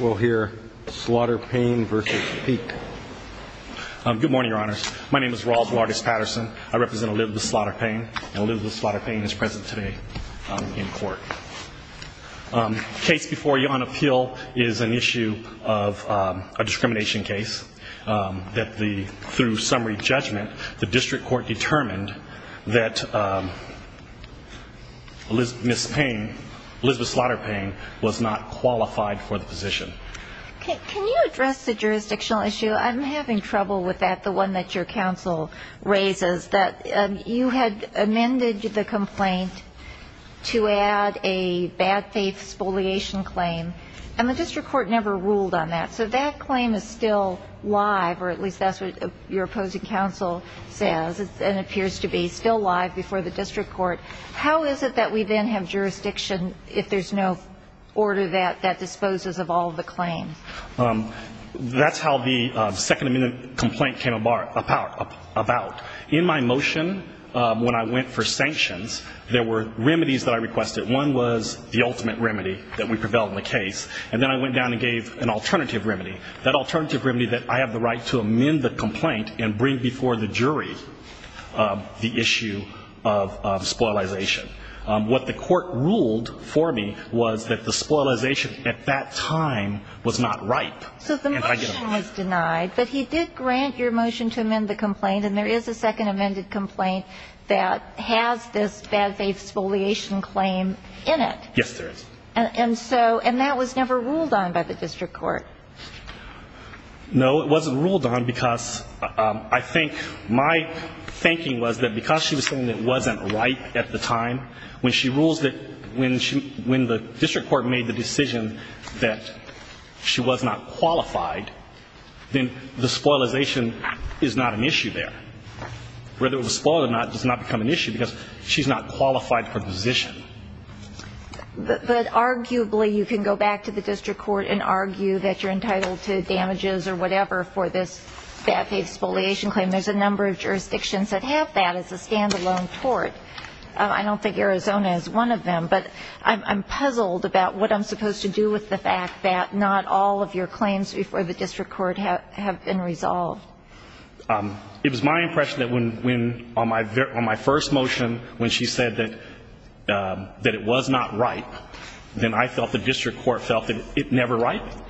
We'll hear Slaughter-Payne v. Peek. Good morning, Your Honors. My name is Ross Waters-Patterson. I represent Elizabeth Slaughter-Payne, and Elizabeth Slaughter-Payne is present today in court. The case before you on appeal is an issue of a discrimination case that, through summary judgment, the district court determined that Ms. Payne, Elizabeth Slaughter-Payne, was not qualified for the position. Can you address the jurisdictional issue? I'm having trouble with that, the one that your counsel raises, that you had amended the complaint to add a bad faith spoliation claim, and the district court never ruled on that. So that claim is still live, or at least that's what your opposing counsel says, and it appears to be still live before the district court. How is it that we then have jurisdiction if there's no order that disposes of all of the claims? That's how the second amendment complaint came about. In my motion, when I went for sanctions, there were remedies that I requested. One was the ultimate remedy that we prevailed in the case, and then I went down and gave an alternative remedy, that alternative remedy that I have the right to amend the complaint and bring before the jury the issue of spoliation. What the court ruled for me was that the spoliation at that time was not ripe. So the motion was denied, but he did grant your motion to amend the complaint, and there is a second amended complaint that has this bad faith spoliation claim in it. Yes, there is. And so, and that was never ruled on by the district court. No, it wasn't ruled on because I think my thinking was that because she was saying it wasn't ripe at the time, when she rules that when the district court made the decision that she was not qualified, then the spoliation is not an issue there. Whether it was spoiled or not does not become an issue because she's not qualified for position. But arguably you can go back to the district court and argue that you're entitled to damages or whatever for this bad faith spoliation claim. There's a number of jurisdictions that have that as a stand-alone tort. I don't think Arizona is one of them, but I'm puzzled about what I'm supposed to do with the fact that not all of your claims before the district court have been resolved. It was my impression that when, on my first motion, when she said that it was not ripe, then I felt the district court felt that it never ripened.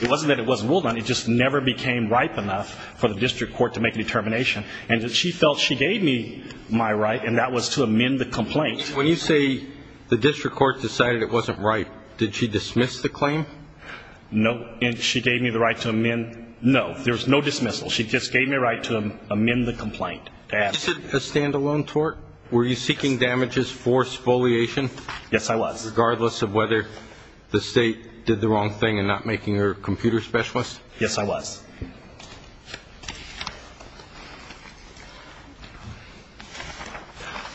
It wasn't that it wasn't ruled on, it just never became ripe enough for the district court to make a determination. And she felt she gave me my right, and that was to amend the complaint. When you say the district court decided it wasn't ripe, did she dismiss the claim? No. And she gave me the right to amend? No. There was no dismissal. She just gave me a right to amend the complaint. A stand-alone tort? Were you seeking damages for spoliation? Yes, I was. Regardless of whether the state did the wrong thing in not making her a computer specialist? Yes, I was.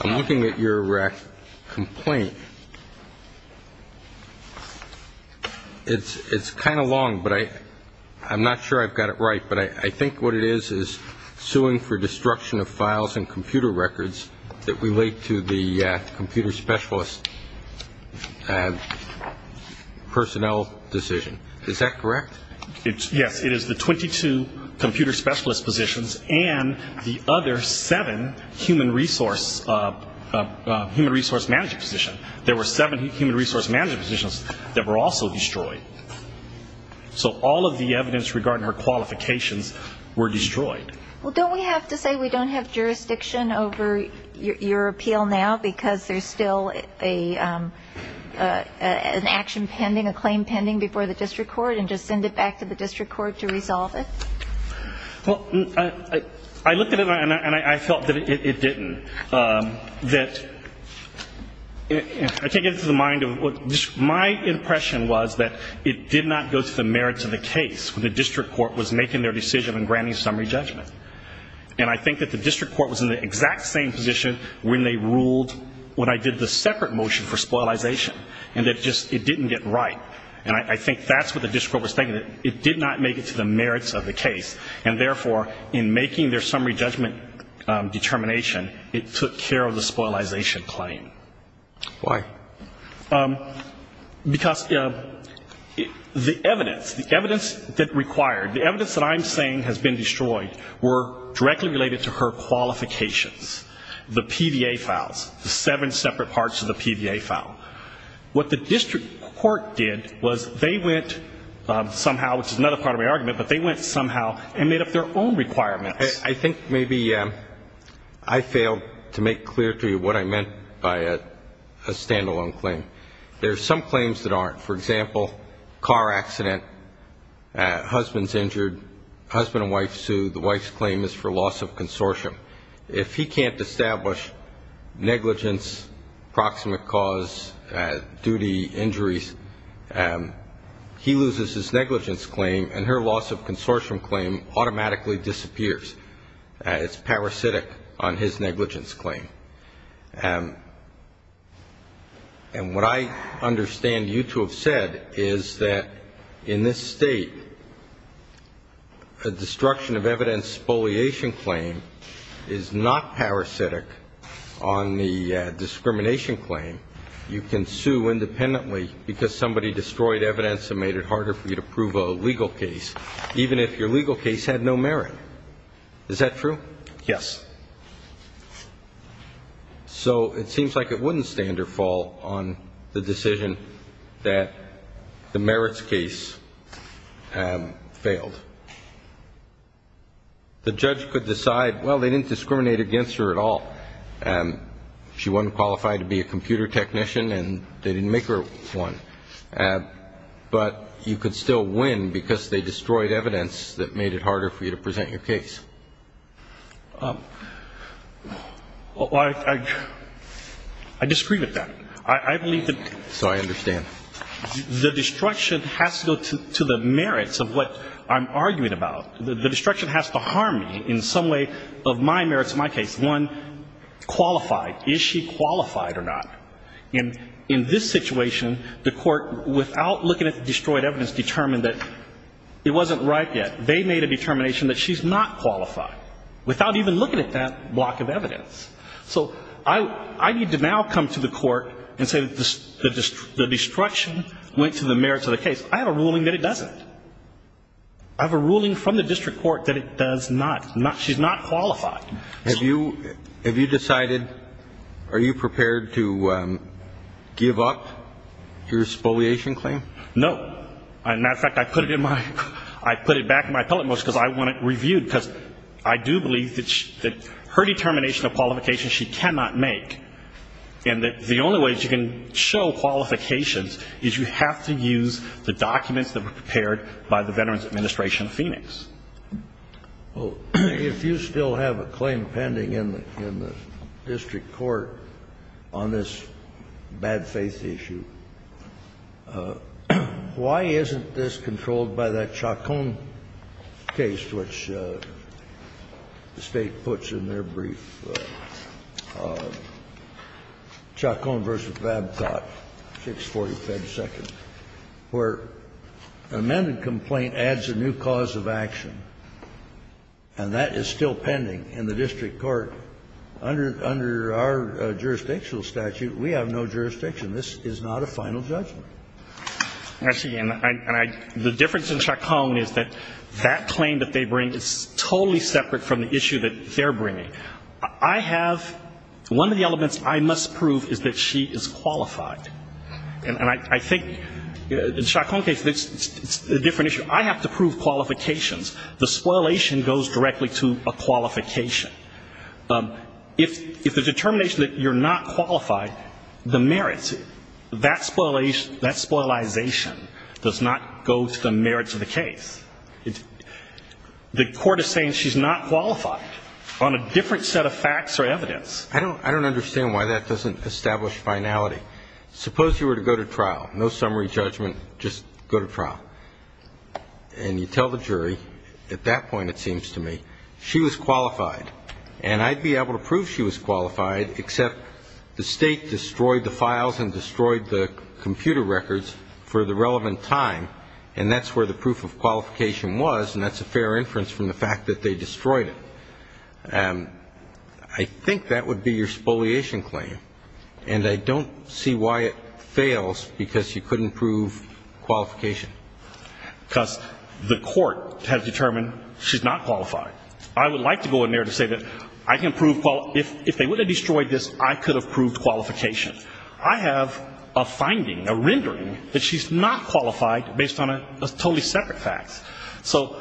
I'm looking at your complaint. It's kind of long, but I'm not sure I've got it right, but I think what it is is suing for destruction of files and computer records that relate to the computer specialist personnel decision. Is that correct? Yes. It is the 22-page complaint. The 22 computer specialist positions and the other seven human resource management positions. There were seven human resource management positions that were also destroyed. So all of the evidence regarding her qualifications were destroyed. Well, don't we have to say we don't have jurisdiction over your appeal now because there's still an action pending, before the district court and just send it back to the district court to resolve it? Well, I looked at it and I felt that it didn't. My impression was that it did not go to the merits of the case when the district court was making their decision and granting summary judgment. And I think that the district court was in the exact same position when they ruled when I did the separate motion for spoliation and that it just didn't get right. And I think that's what the district court was thinking. It did not make it to the merits of the case, and therefore in making their summary judgment determination, it took care of the spoliation claim. Why? Because the evidence, the evidence that required, the evidence that I'm saying has been destroyed were directly related to her qualifications. The PVA files, the seven separate parts of the PVA file. What the district court did was they went somehow, which is another part of my argument, but they went somehow and made up their own requirements. I think maybe I failed to make clear to you what I meant by a standalone claim. There are some claims that aren't. For example, car accident, husband's injured, husband and wife sued, the wife's claim is for loss of consortium. If he can't establish negligence, proximate cause, duty, injuries, he loses his negligence claim and her loss of consortium claim automatically disappears. It's parasitic on his negligence claim. And what I understand you to have said is that in this state, a destruction of evidence spoliation claim is not parasitic on the discrimination claim. You can sue independently because somebody destroyed evidence and made it harder for you to prove a legal case, even if your legal case had no merit. Is that true? Yes. So it seems like it wouldn't stand or fall on the decision that the merits case failed. The judge could decide, well, they didn't discriminate against her at all. She wasn't qualified to be a computer technician and they didn't make her one. But you could still win because they destroyed evidence that made it harder for you to present your case. Well, I disagree with that. I believe that the destruction has to go to the merits of what I'm arguing about. The destruction has to harm me in some way of my merits in my case. One, qualified. Is she qualified or not? In this situation, the court, without looking at the destroyed evidence, determined that it wasn't right yet. They made a determination that she's not qualified, without even looking at that block of evidence. So I need to now come to the court and say that the destruction went to the merits of the case. I have a ruling that it doesn't. I have a ruling from the district court that it does not. She's not qualified. Have you decided, are you prepared to give up your spoliation claim? No. As a matter of fact, I put it back in my appellate motion because I want it reviewed because I do believe that her determination of qualifications she cannot make and that the only way she can show qualifications is you have to use the documents that were prepared by the Veterans Administration of Phoenix. Well, if you still have a claim pending in the district court on this bad faith issue, why isn't this controlled by that Chacon case, which the State puts in their brief, Chacon v. Babcock, 645-2, where an amended complaint adds a new cause of action and that is still pending in the district court under our jurisdictional statute, we have no jurisdiction. This is not a final judgment. Actually, and the difference in Chacon is that that claim that they bring is totally separate from the issue that they're bringing. I have one of the elements I must prove is that she is qualified. And I think in Chacon's case, it's a different issue. I have to prove qualifications. The spoilation goes directly to a qualification. If the determination that you're not qualified, the merits, that spoilization does not go to the merits of the case. The court is saying she's not qualified on a different set of facts or evidence. I don't understand why that doesn't establish finality. Suppose you were to go to trial, no summary judgment, just go to trial, and you tell the jury at that point, it seems to me, she was qualified. And I'd be able to prove she was qualified, except the State destroyed the files and destroyed the computer records for the relevant time, and that's where the proof of qualification was, and that's a fair inference from the fact that they destroyed it. I think that would be your spoliation claim. And I don't see why it fails because you couldn't prove qualification. Because the court has determined she's not qualified. I would like to go in there to say that I can prove quali- if they would have destroyed this, I could have proved qualification. I have a finding, a rendering, that she's not qualified based on a totally separate fact. So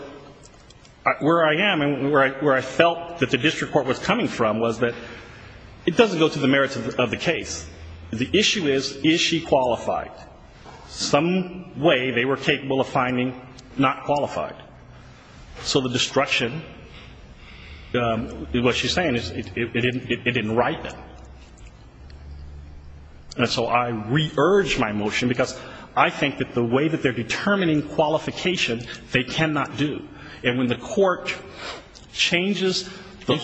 where I am and where I felt that the district court was coming from was that it doesn't go to the merits of the case. The issue is, is she qualified? Some way they were capable of finding not qualified. So the destruction, what she's saying is, it didn't write them. And so I re-urge my motion because I think that the way that they're determining they cannot do. And when the court changes the-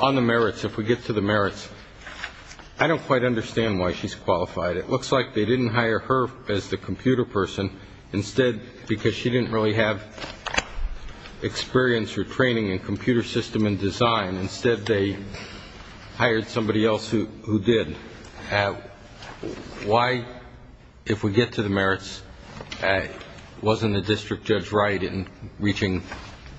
On the merits, if we get to the merits, I don't quite understand why she's qualified. It looks like they didn't hire her as the computer person instead because she didn't really have experience or training in computer system and design. Instead, they hired somebody else who did. Why, if we get to the merits, wasn't the district judge right in reaching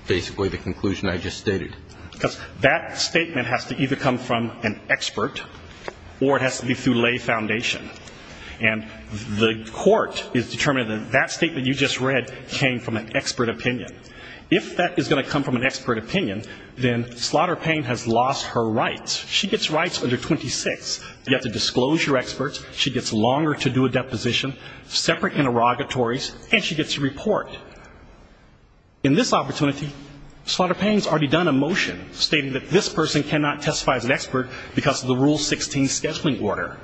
basically the conclusion I just stated? Because that statement has to either come from an expert or it has to be through lay foundation. And the court is determined that that statement you just read came from an expert opinion. If that is going to come from an expert opinion, then Slaughter Payne has lost her rights. She gets rights under 26. You have to disclose your experts, she gets longer to do a deposition, separate interrogatories, and she gets to report. In this opportunity, Slaughter Payne has already done a motion stating that this person cannot testify as an expert because of the Rule 16 scheduling order.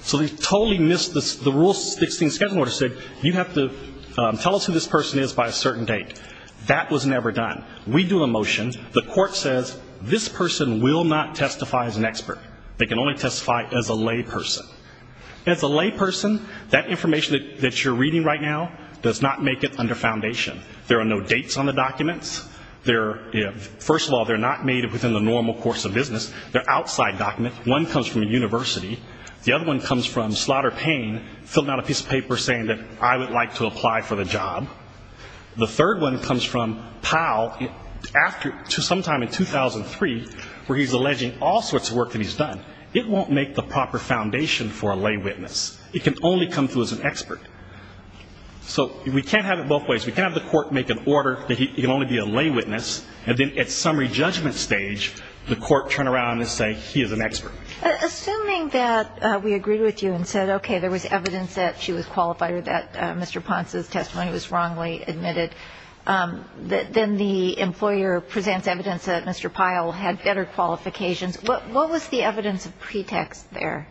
So they totally missed this. The Rule 16 scheduling order said you have to tell us who this person is by a certain date. That was never done. We do a motion. The court says this person will not testify as an expert. They can only testify as a lay person. As a lay person, that information that you're reading right now does not make it under foundation. There are no dates on the documents. First of all, they're not made within the normal course of business. They're outside documents. One comes from a university. The other one comes from Slaughter Payne filling out a piece of paper saying that I would like to apply for the job. The third one comes from Powell sometime in 2003 where he's alleging all sorts of work that he's done. It won't make the proper foundation for a lay witness. It can only come through as an expert. So we can't have it both ways. We can't have the court make an order that he can only be a lay witness, and then at summary judgment stage, the court turn around and say he is an expert. Assuming that we agreed with you and said, okay, there was evidence that she was qualified or that Mr. Ponce's testimony was wrongly admitted, then the employer presents evidence that Mr. Pyle had better qualifications. What was the evidence of pretext there?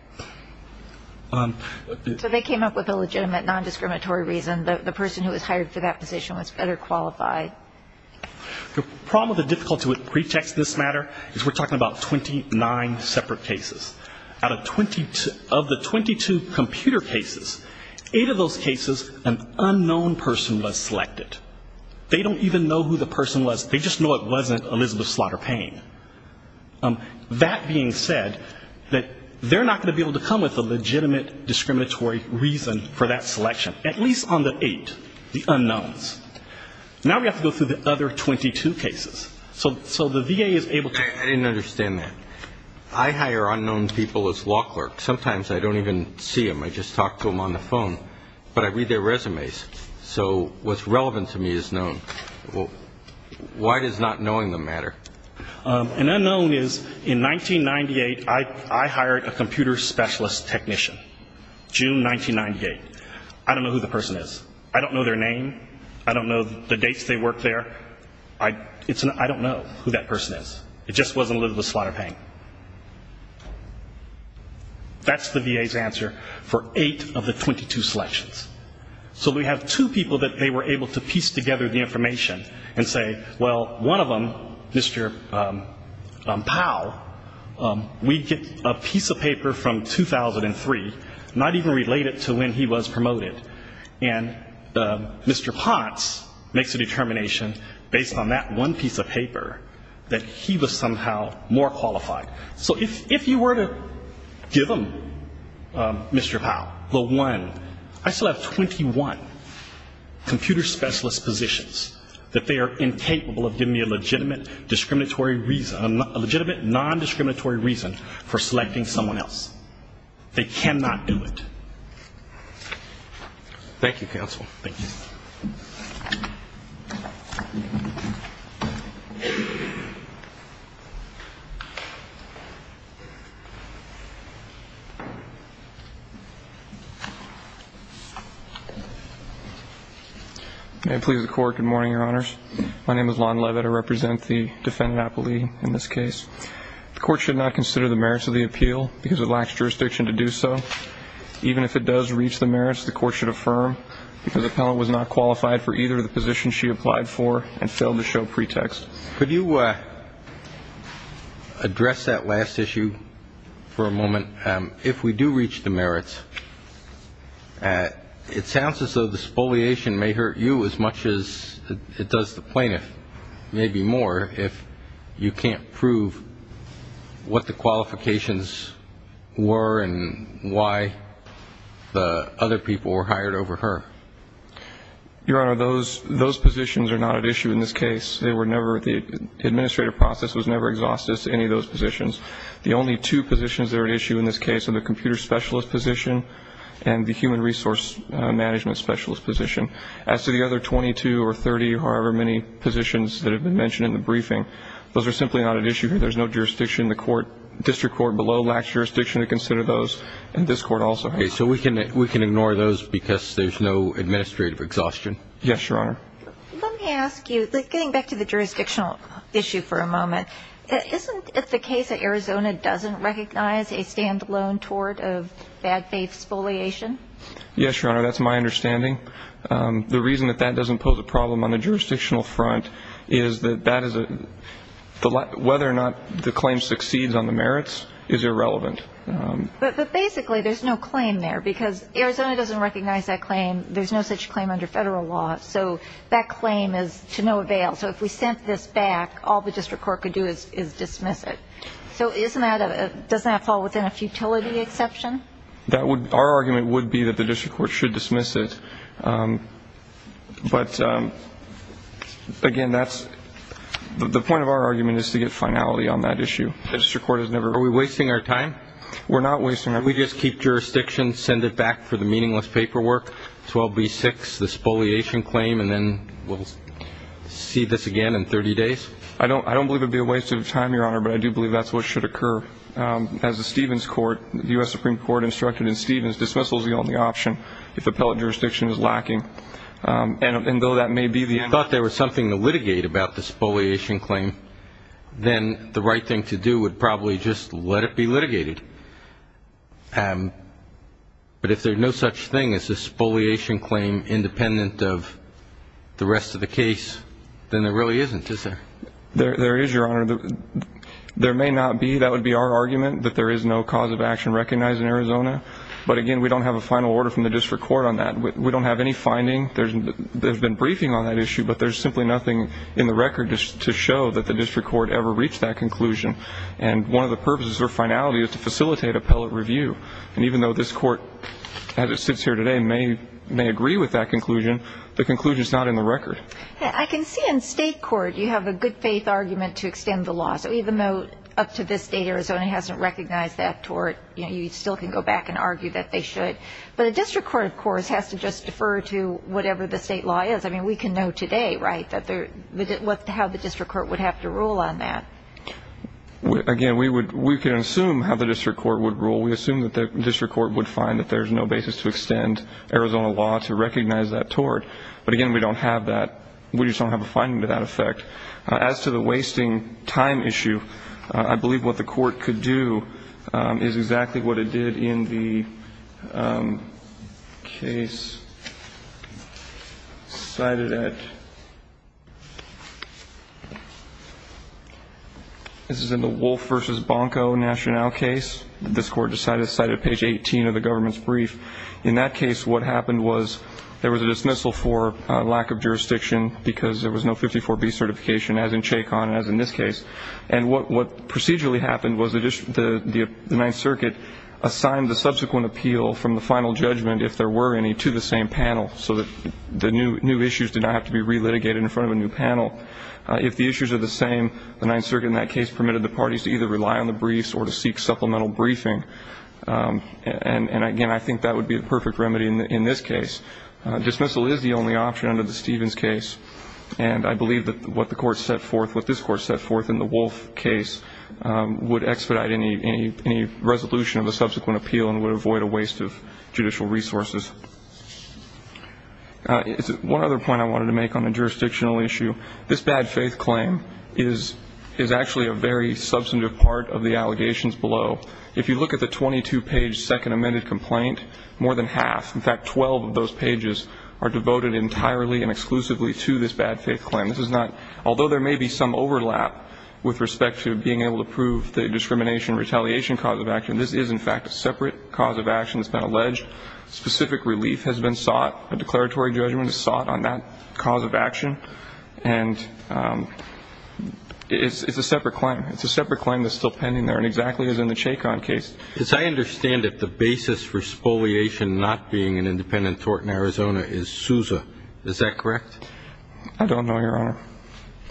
So they came up with a legitimate, non-discriminatory reason that the person who was hired for that position was better qualified. The problem with the difficulty with pretext in this matter is we're talking about 29 separate cases. Out of 22, of the 22 computer cases, eight of those cases, an unknown person was selected. They don't even know who the person was, they just know it wasn't Elizabeth Slaughter Payne. That being said, that they're not going to be able to come with a legitimate, discriminatory reason for that selection, at least on the eight, the unknowns. Now we have to go through the other 22 cases. So the VA is able to... I didn't understand that. I hire unknown people as law clerks. Sometimes I don't even see them, I just talk to them on the phone, but I read their resumes. So what's relevant to me is known. Why does not knowing them matter? An unknown is, in 1998, I hired a computer specialist technician, June 1998. I don't know who the person is. I don't know their name. I don't know the dates they worked there. I don't know who that person is. It just wasn't Elizabeth Slaughter Payne. That's the VA's answer for eight of the 22 selections. So we have two people that they were able to piece together the information and say, well, one of them, Mr. Powell, we get a piece of paper from 2003, not even related to when he was promoted. And Mr. Potts makes a determination based on that one piece of paper that he was somehow more qualified. So if you were to give them, Mr. Powell, the one, I still have 21 computer specialist positions that they are incapable of giving me a legitimate non-discriminatory reason for selecting someone else. They cannot do it. Thank you, counsel. Thank you. May it please the Court. Good morning, Your Honors. My name is Lon Leavitt. I represent the defendant appellee in this case. The Court should not consider the merits of the appeal because it lacks jurisdiction to do so. Even if it does reach the merits, the Court should affirm that the appellant was not qualified for either of the positions she applied for and failed to show pretext. Could you address that last issue for a moment? If we do reach the merits, it sounds as though the spoliation may hurt you as much as it does the plaintiff, maybe more if you can't prove what the qualifications were and why the other people were hired over her. Your Honor, those positions are not at issue in this case. They were never, the administrative process was never exhaustive to any of those positions. The only two positions that are at issue in this case are the computer specialist position and the human resource management specialist position. As to the other 22 or 30 or however many positions that have been mentioned in the briefing, those are simply not at issue here. There's no jurisdiction. The District Court below lacks jurisdiction to consider those, and this Court also. Okay. So we can ignore those because there's no administrative exhaustion? Yes, Your Honor. Let me ask you, getting back to the jurisdictional issue for a moment, isn't it the case that Arizona doesn't recognize a stand-alone tort of bad faith spoliation? Yes, Your Honor. That's my understanding. The reason that that doesn't pose a problem on the jurisdictional front is that that is a, whether or not the claim succeeds on the merits is irrelevant. But basically there's no claim there because Arizona doesn't recognize that claim. There's no such claim under federal law. So that claim is to no avail. So if we sent this back, all the District Court could do is dismiss it. So doesn't that fall within a futility exception? That would, our argument would be that the District Court should dismiss it. But, again, that's, the point of our argument is to get finality on that issue. The District Court has never. Are we wasting our time? We're not wasting our time. We just keep jurisdiction, send it back for the meaningless paperwork, 12B6, the spoliation claim, and then we'll see this again in 30 days? I don't believe it would be a waste of time, Your Honor, but I do believe that's what should occur. As the Stevens Court, U.S. Supreme Court instructed in Stevens, dismissal is the only option if appellate jurisdiction is lacking. And though that may be the end. If you thought there was something to litigate about the spoliation claim, then the right thing to do would probably just let it be litigated. But if there's no such thing as a spoliation claim independent of the rest of the case, then there really isn't, is there? There is, Your Honor. There may not be. That would be our argument, that there is no cause of action recognized in Arizona. But, again, we don't have a final order from the District Court on that. We don't have any finding. There's been briefing on that issue, but there's simply nothing in the record to show that the District Court ever reached that conclusion. And one of the purposes or finality is to facilitate appellate review. And even though this Court, as it sits here today, may agree with that conclusion, the conclusion is not in the record. I can see in State Court you have a good-faith argument to extend the law. So even though up to this date Arizona hasn't recognized that tort, you still can go back and argue that they should. But the District Court, of course, has to just defer to whatever the State law is. I mean, we can know today, right, how the District Court would have to rule on that. Again, we can assume how the District Court would rule. We assume that the District Court would find that there's no basis to extend Arizona law to recognize that tort. But, again, we don't have that. We just don't have a finding to that effect. As to the wasting time issue, I believe what the Court could do is exactly what it did in the case cited at, this is in the Wolfe v. Bonko Nationale case, that this Court decided to cite at page 18 of the government's brief. In that case, what happened was there was a dismissal for lack of jurisdiction because there was no 54B certification, as in Chacon and as in this case. And what procedurally happened was the Ninth Circuit assigned the subsequent appeal from the final judgment, if there were any, to the same panel, so that the new issues did not have to be relitigated in front of a new panel. If the issues are the same, the Ninth Circuit in that case permitted the parties to either rely on the briefs or to seek supplemental briefing. And, again, I think that would be the perfect remedy in this case. Dismissal is the only option under the Stevens case, and I believe that what the Court set forth, what this Court set forth in the Wolfe case, would expedite any resolution of the subsequent appeal and would avoid a waste of judicial resources. One other point I wanted to make on a jurisdictional issue, this bad faith claim is actually a very substantive part of the allegations below. If you look at the 22-page second amended complaint, more than half, in fact 12 of those pages, are devoted entirely and exclusively to this bad faith claim. Although there may be some overlap with respect to being able to prove the discrimination and retaliation cause of action, this is, in fact, a separate cause of action that's been alleged. Specific relief has been sought. A declaratory judgment is sought on that cause of action. And it's a separate claim. It's a separate claim that's still pending there, and exactly as in the Chacon case. As I understand it, the basis for spoliation not being an independent tort in Arizona is Sousa. Is that correct? I don't know, Your Honor.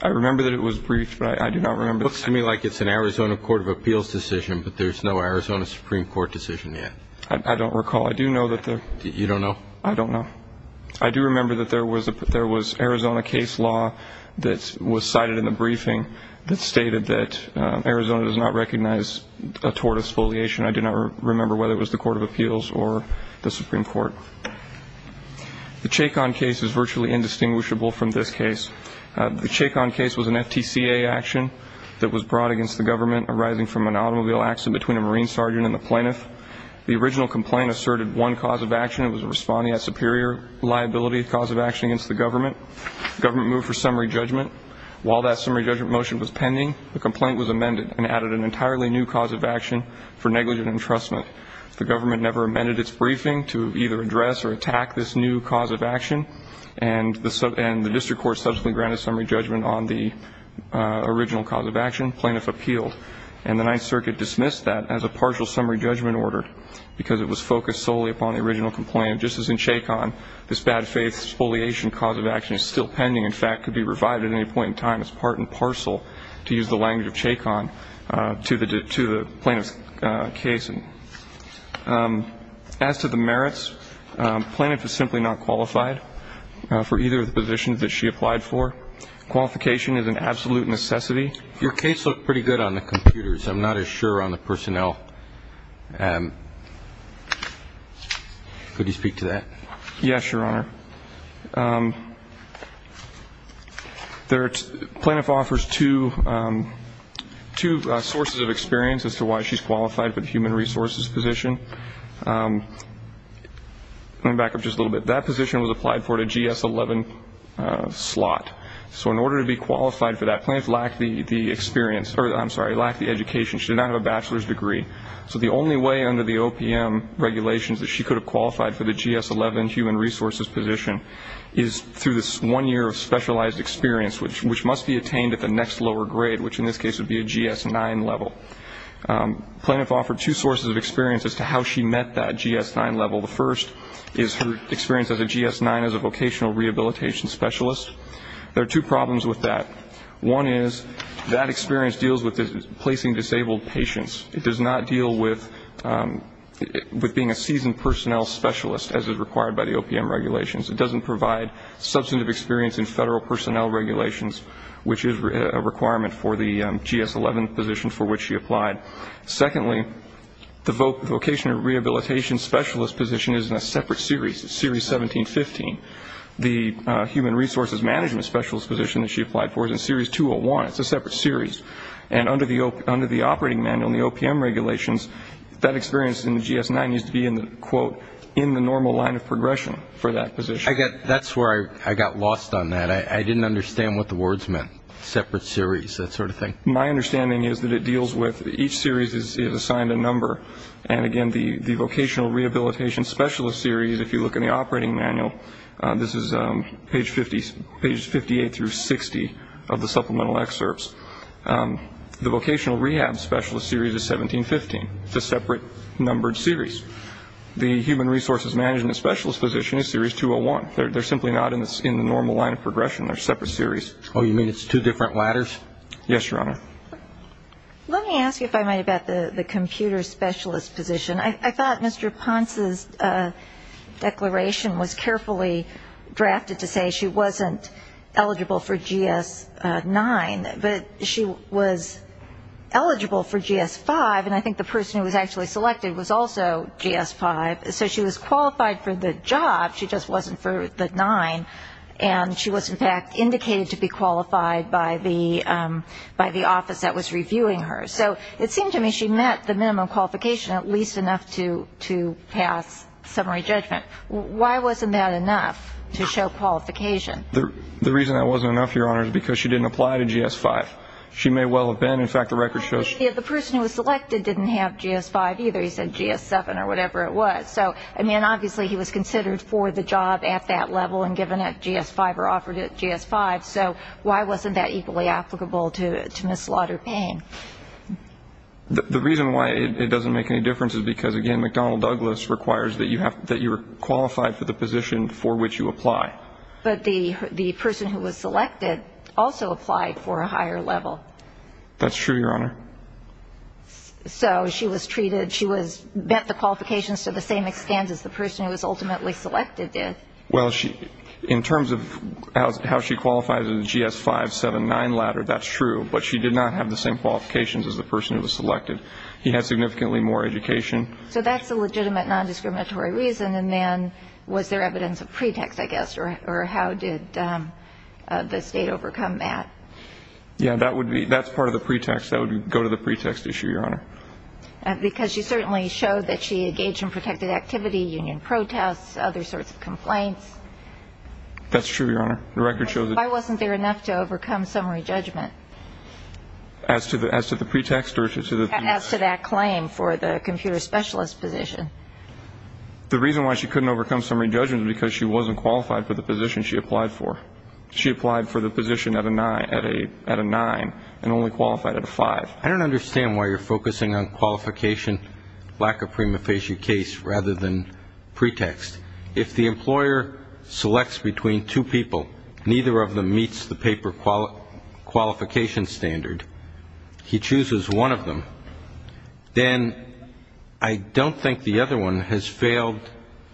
I remember that it was briefed, but I do not remember. It looks to me like it's an Arizona Court of Appeals decision, but there's no Arizona Supreme Court decision yet. I don't recall. I do know that there. You don't know? I don't know. I do remember that there was Arizona case law that was cited in the briefing that stated that Arizona does not recognize a tort of spoliation. I do not remember whether it was the Court of Appeals or the Supreme Court. The Chacon case is virtually indistinguishable from this case. The Chacon case was an FTCA action that was brought against the government arising from an automobile accident between a Marine sergeant and the plaintiff. The original complaint asserted one cause of action. It was responding at superior liability cause of action against the government. The government moved for summary judgment. While that summary judgment motion was pending, the complaint was amended and added an entirely new cause of action for negligent entrustment. The government never amended its briefing to either address or attack this new cause of action, and the district court subsequently granted summary judgment on the original cause of action. Plaintiff appealed, and the Ninth Circuit dismissed that as a partial summary judgment order because it was focused solely upon the original complaint. Just as in Chacon, this bad faith spoliation cause of action is still pending, in fact, and could be revived at any point in time as part and parcel, to use the language of Chacon, to the plaintiff's case. As to the merits, plaintiff is simply not qualified for either of the positions that she applied for. Qualification is an absolute necessity. Your case looked pretty good on the computers. I'm not as sure on the personnel. Could you speak to that? Yes, Your Honor. Plaintiff offers two sources of experience as to why she's qualified for the human resources position. Let me back up just a little bit. That position was applied for the GS-11 slot. So in order to be qualified for that, plaintiff lacked the experience, or I'm sorry, lacked the education. She did not have a bachelor's degree. So the only way under the OPM regulations that she could have qualified for the GS-11 human resources position is through this one year of specialized experience, which must be attained at the next lower grade, which in this case would be a GS-9 level. Plaintiff offered two sources of experience as to how she met that GS-9 level. The first is her experience as a GS-9, as a vocational rehabilitation specialist. There are two problems with that. One is that experience deals with placing disabled patients. It does not deal with being a seasoned personnel specialist as is required by the OPM regulations. It doesn't provide substantive experience in federal personnel regulations, which is a requirement for the GS-11 position for which she applied. Secondly, the vocational rehabilitation specialist position is in a separate series, series 1715. The human resources management specialist position that she applied for is in series 201. It's a separate series. And under the operating manual and the OPM regulations, that experience in the GS-9 needs to be in the, quote, in the normal line of progression for that position. That's where I got lost on that. I didn't understand what the words meant, separate series, that sort of thing. My understanding is that it deals with each series is assigned a number. And, again, the vocational rehabilitation specialist series, if you look in the operating manual, this is page 58 through 60 of the supplemental excerpts. The vocational rehab specialist series is 1715. It's a separate numbered series. The human resources management specialist position is series 201. They're simply not in the normal line of progression. They're separate series. Oh, you mean it's two different ladders? Yes, Your Honor. Let me ask you if I might about the computer specialist position. I thought Mr. Ponce's declaration was carefully drafted to say she wasn't eligible for GS-9, but she was eligible for GS-5, and I think the person who was actually selected was also GS-5. So she was qualified for the job, she just wasn't for the nine. And she was, in fact, indicated to be qualified by the office that was reviewing her. So it seemed to me she met the minimum qualification, at least enough to pass summary judgment. Why wasn't that enough to show qualification? The reason that wasn't enough, Your Honor, is because she didn't apply to GS-5. She may well have been. In fact, the record shows the person who was selected didn't have GS-5 either. He said GS-7 or whatever it was. So, I mean, obviously he was considered for the job at that level and given a GS-5 or offered a GS-5. So why wasn't that equally applicable to Ms. Slaughter-Payne? The reason why it doesn't make any difference is because, again, McDonnell Douglas requires that you are qualified for the position for which you apply. But the person who was selected also applied for a higher level. That's true, Your Honor. So she was treated, she was met the qualifications to the same extent as the person who was ultimately selected did. Well, in terms of how she qualifies in the GS-5, 7, 9 ladder, that's true. But she did not have the same qualifications as the person who was selected. He had significantly more education. So that's a legitimate nondiscriminatory reason. And then was there evidence of pretext, I guess, or how did the State overcome that? Yeah, that would be, that's part of the pretext. That would go to the pretext issue, Your Honor. Because she certainly showed that she engaged in protected activity, union protests, other sorts of complaints. That's true, Your Honor. The record shows that. Why wasn't there enough to overcome summary judgment? As to the pretext? As to that claim for the computer specialist position. The reason why she couldn't overcome summary judgment is because she wasn't qualified for the position she applied for. She applied for the position at a 9 and only qualified at a 5. I don't understand why you're focusing on qualification, lack of prima facie case, rather than pretext. If the employer selects between two people, neither of them meets the paper qualification standard, he chooses one of them, then I don't think the other one has failed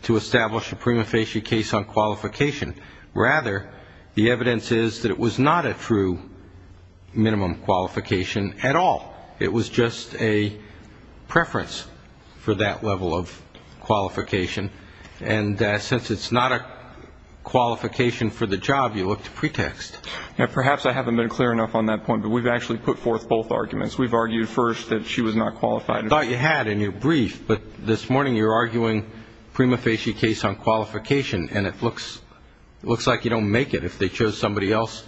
to establish a prima facie case on qualification. Rather, the evidence is that it was not a true minimum qualification at all. It was just a preference for that level of qualification. And since it's not a qualification for the job, you look to pretext. Perhaps I haven't been clear enough on that point, but we've actually put forth both arguments. We've argued first that she was not qualified. I thought you had in your brief, but this morning you're arguing prima facie case on qualification, and it looks like you don't make it if they chose somebody else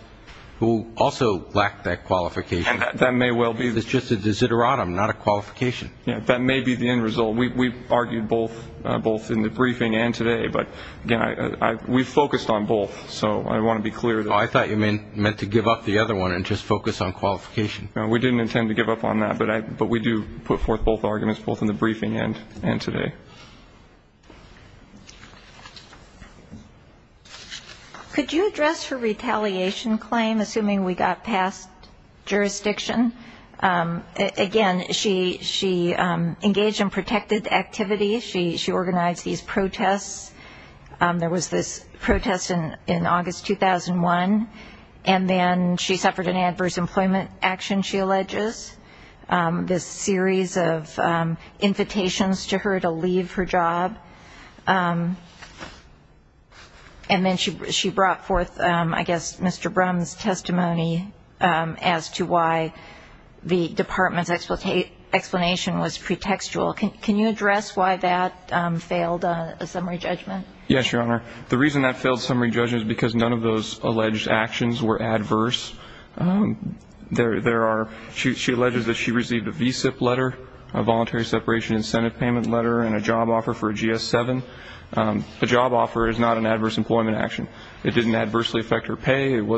who also lacked that qualification. That may well be. It's just a desideratum, not a qualification. That may be the end result. We've argued both in the briefing and today, but, again, we've focused on both, so I want to be clear. I thought you meant to give up the other one and just focus on qualification. We didn't intend to give up on that, but we do put forth both arguments, both in the briefing and today. Could you address her retaliation claim, assuming we got past jurisdiction? Again, she engaged in protected activity. She organized these protests. There was this protest in August 2001, and then she suffered an adverse employment action, she alleges, this series of invitations to her to leave her job. And then she brought forth, I guess, Mr. Brum's testimony as to why the department's explanation was pretextual. Can you address why that failed a summary judgment? Yes, Your Honor. The reason that failed a summary judgment is because none of those alleged actions were adverse. She alleges that she received a VSIP letter, a voluntary separation incentive payment letter, and a job offer for a GS-7. A job offer is not an adverse employment action. It didn't adversely affect her pay. It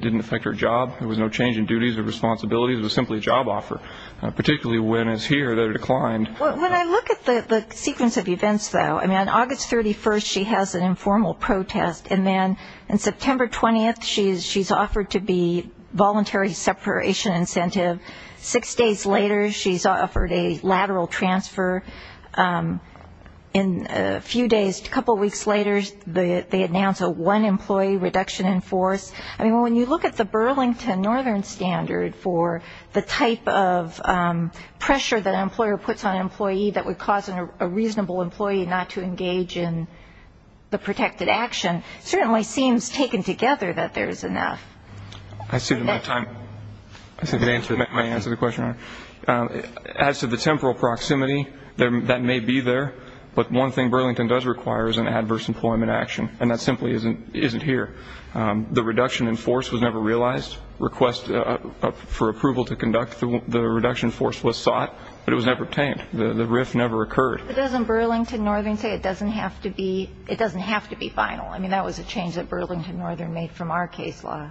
didn't affect her job. There was no change in duties or responsibilities. It was simply a job offer. Particularly when it's here, they're declined. When I look at the sequence of events, though, I mean, on August 31st, she has an informal protest. And then on September 20th, she's offered to be voluntary separation incentive. Six days later, she's offered a lateral transfer. And a few days, a couple weeks later, they announce a one-employee reduction in force. I mean, when you look at the Burlington Northern Standard for the type of pressure that an employer puts on an employee that would cause a reasonable employee not to engage in the protected action, it certainly seems taken together that there's enough. I assume that my answer to the question, Your Honor, as to the temporal proximity, that may be there. But one thing Burlington does require is an adverse employment action, and that simply isn't here. The reduction in force was never realized. Requests for approval to conduct the reduction in force was sought, but it was never obtained. The RIF never occurred. But doesn't Burlington Northern say it doesn't have to be final? I mean, that was a change that Burlington Northern made from our case law.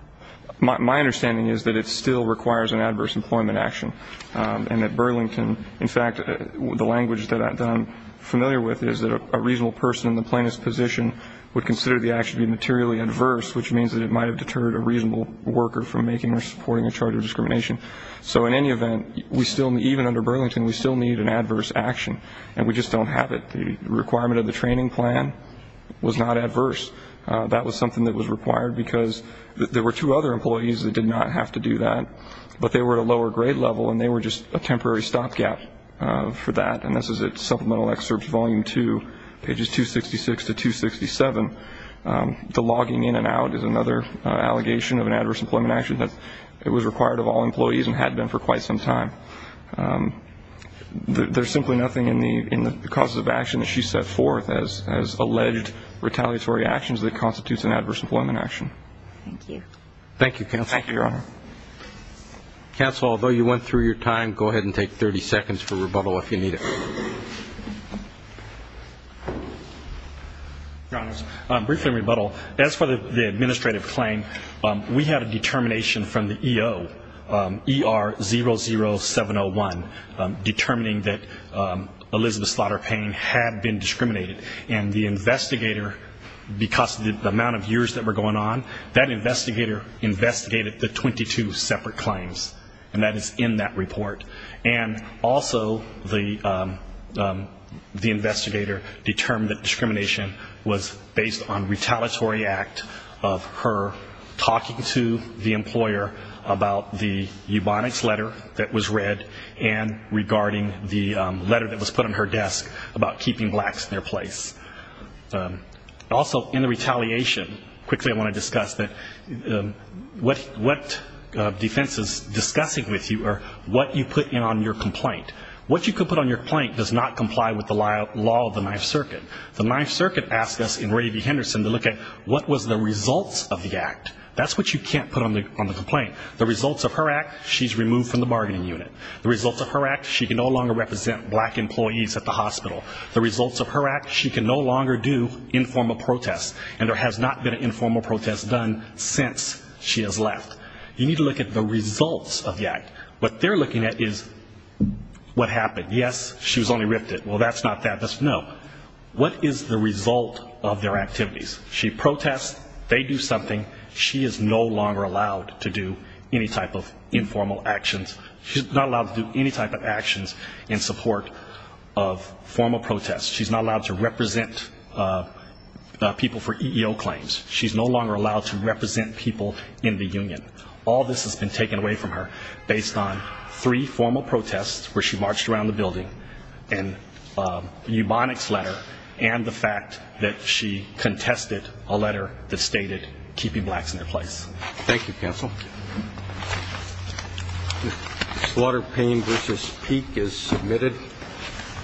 My understanding is that it still requires an adverse employment action, and that Burlington, in fact, the language that I'm familiar with is that a reasonable person in the plaintiff's position would consider the action to be materially adverse, which means that it might have deterred a reasonable worker from making or supporting a charge of discrimination. So in any event, even under Burlington, we still need an adverse action, and we just don't have it. The requirement of the training plan was not adverse. That was something that was required because there were two other employees that did not have to do that, but they were at a lower grade level and they were just a temporary stopgap for that. And this is at supplemental excerpts volume two, pages 266 to 267. The logging in and out is another allegation of an adverse employment action that it was required of all employees and had been for quite some time. There's simply nothing in the causes of action that she set forth as alleged retaliatory actions that constitutes an adverse employment action. Thank you, counsel. Thank you, Your Honor. Counsel, although you went through your time, go ahead and take 30 seconds for rebuttal if you need it. Your Honors, briefly a rebuttal. As for the administrative claim, we had a determination from the EO, ER00701, determining that Elizabeth Slaughter Payne had been discriminated, and the investigator, because of the amount of years that were going on, that investigator investigated the 22 separate claims, and that is in that report. And also the investigator determined that discrimination was based on retaliatory act of her talking to the employer about the eubonics letter that was read and regarding the letter that was put on her desk about keeping blacks in their place. Also, in the retaliation, quickly I want to discuss that what defense is discussing with you are what you put in on your complaint. What you can put on your complaint does not comply with the law of the Ninth Circuit. The Ninth Circuit asked us in Ravy Henderson to look at what was the results of the act. That's what you can't put on the complaint. The results of her act, she's removed from the bargaining unit. The results of her act, she can no longer represent black employees at the hospital. The results of her act, she can no longer do informal protests, and there has not been an informal protest done since she has left. You need to look at the results of the act. What they're looking at is what happened. Yes, she was only rifted. Well, that's not that. No. What is the result of their activities? She protests. They do something. She is no longer allowed to do any type of informal actions. She's not allowed to do any type of actions in support of formal protests. She's not allowed to represent people for EEO claims. She's no longer allowed to represent people in the union. All this has been taken away from her based on three formal protests where she marched around the building, an eubonics letter, and the fact that she contested a letter that stated keeping blacks in their place. Thank you, counsel. Slaughter Payne v. Peek is submitted.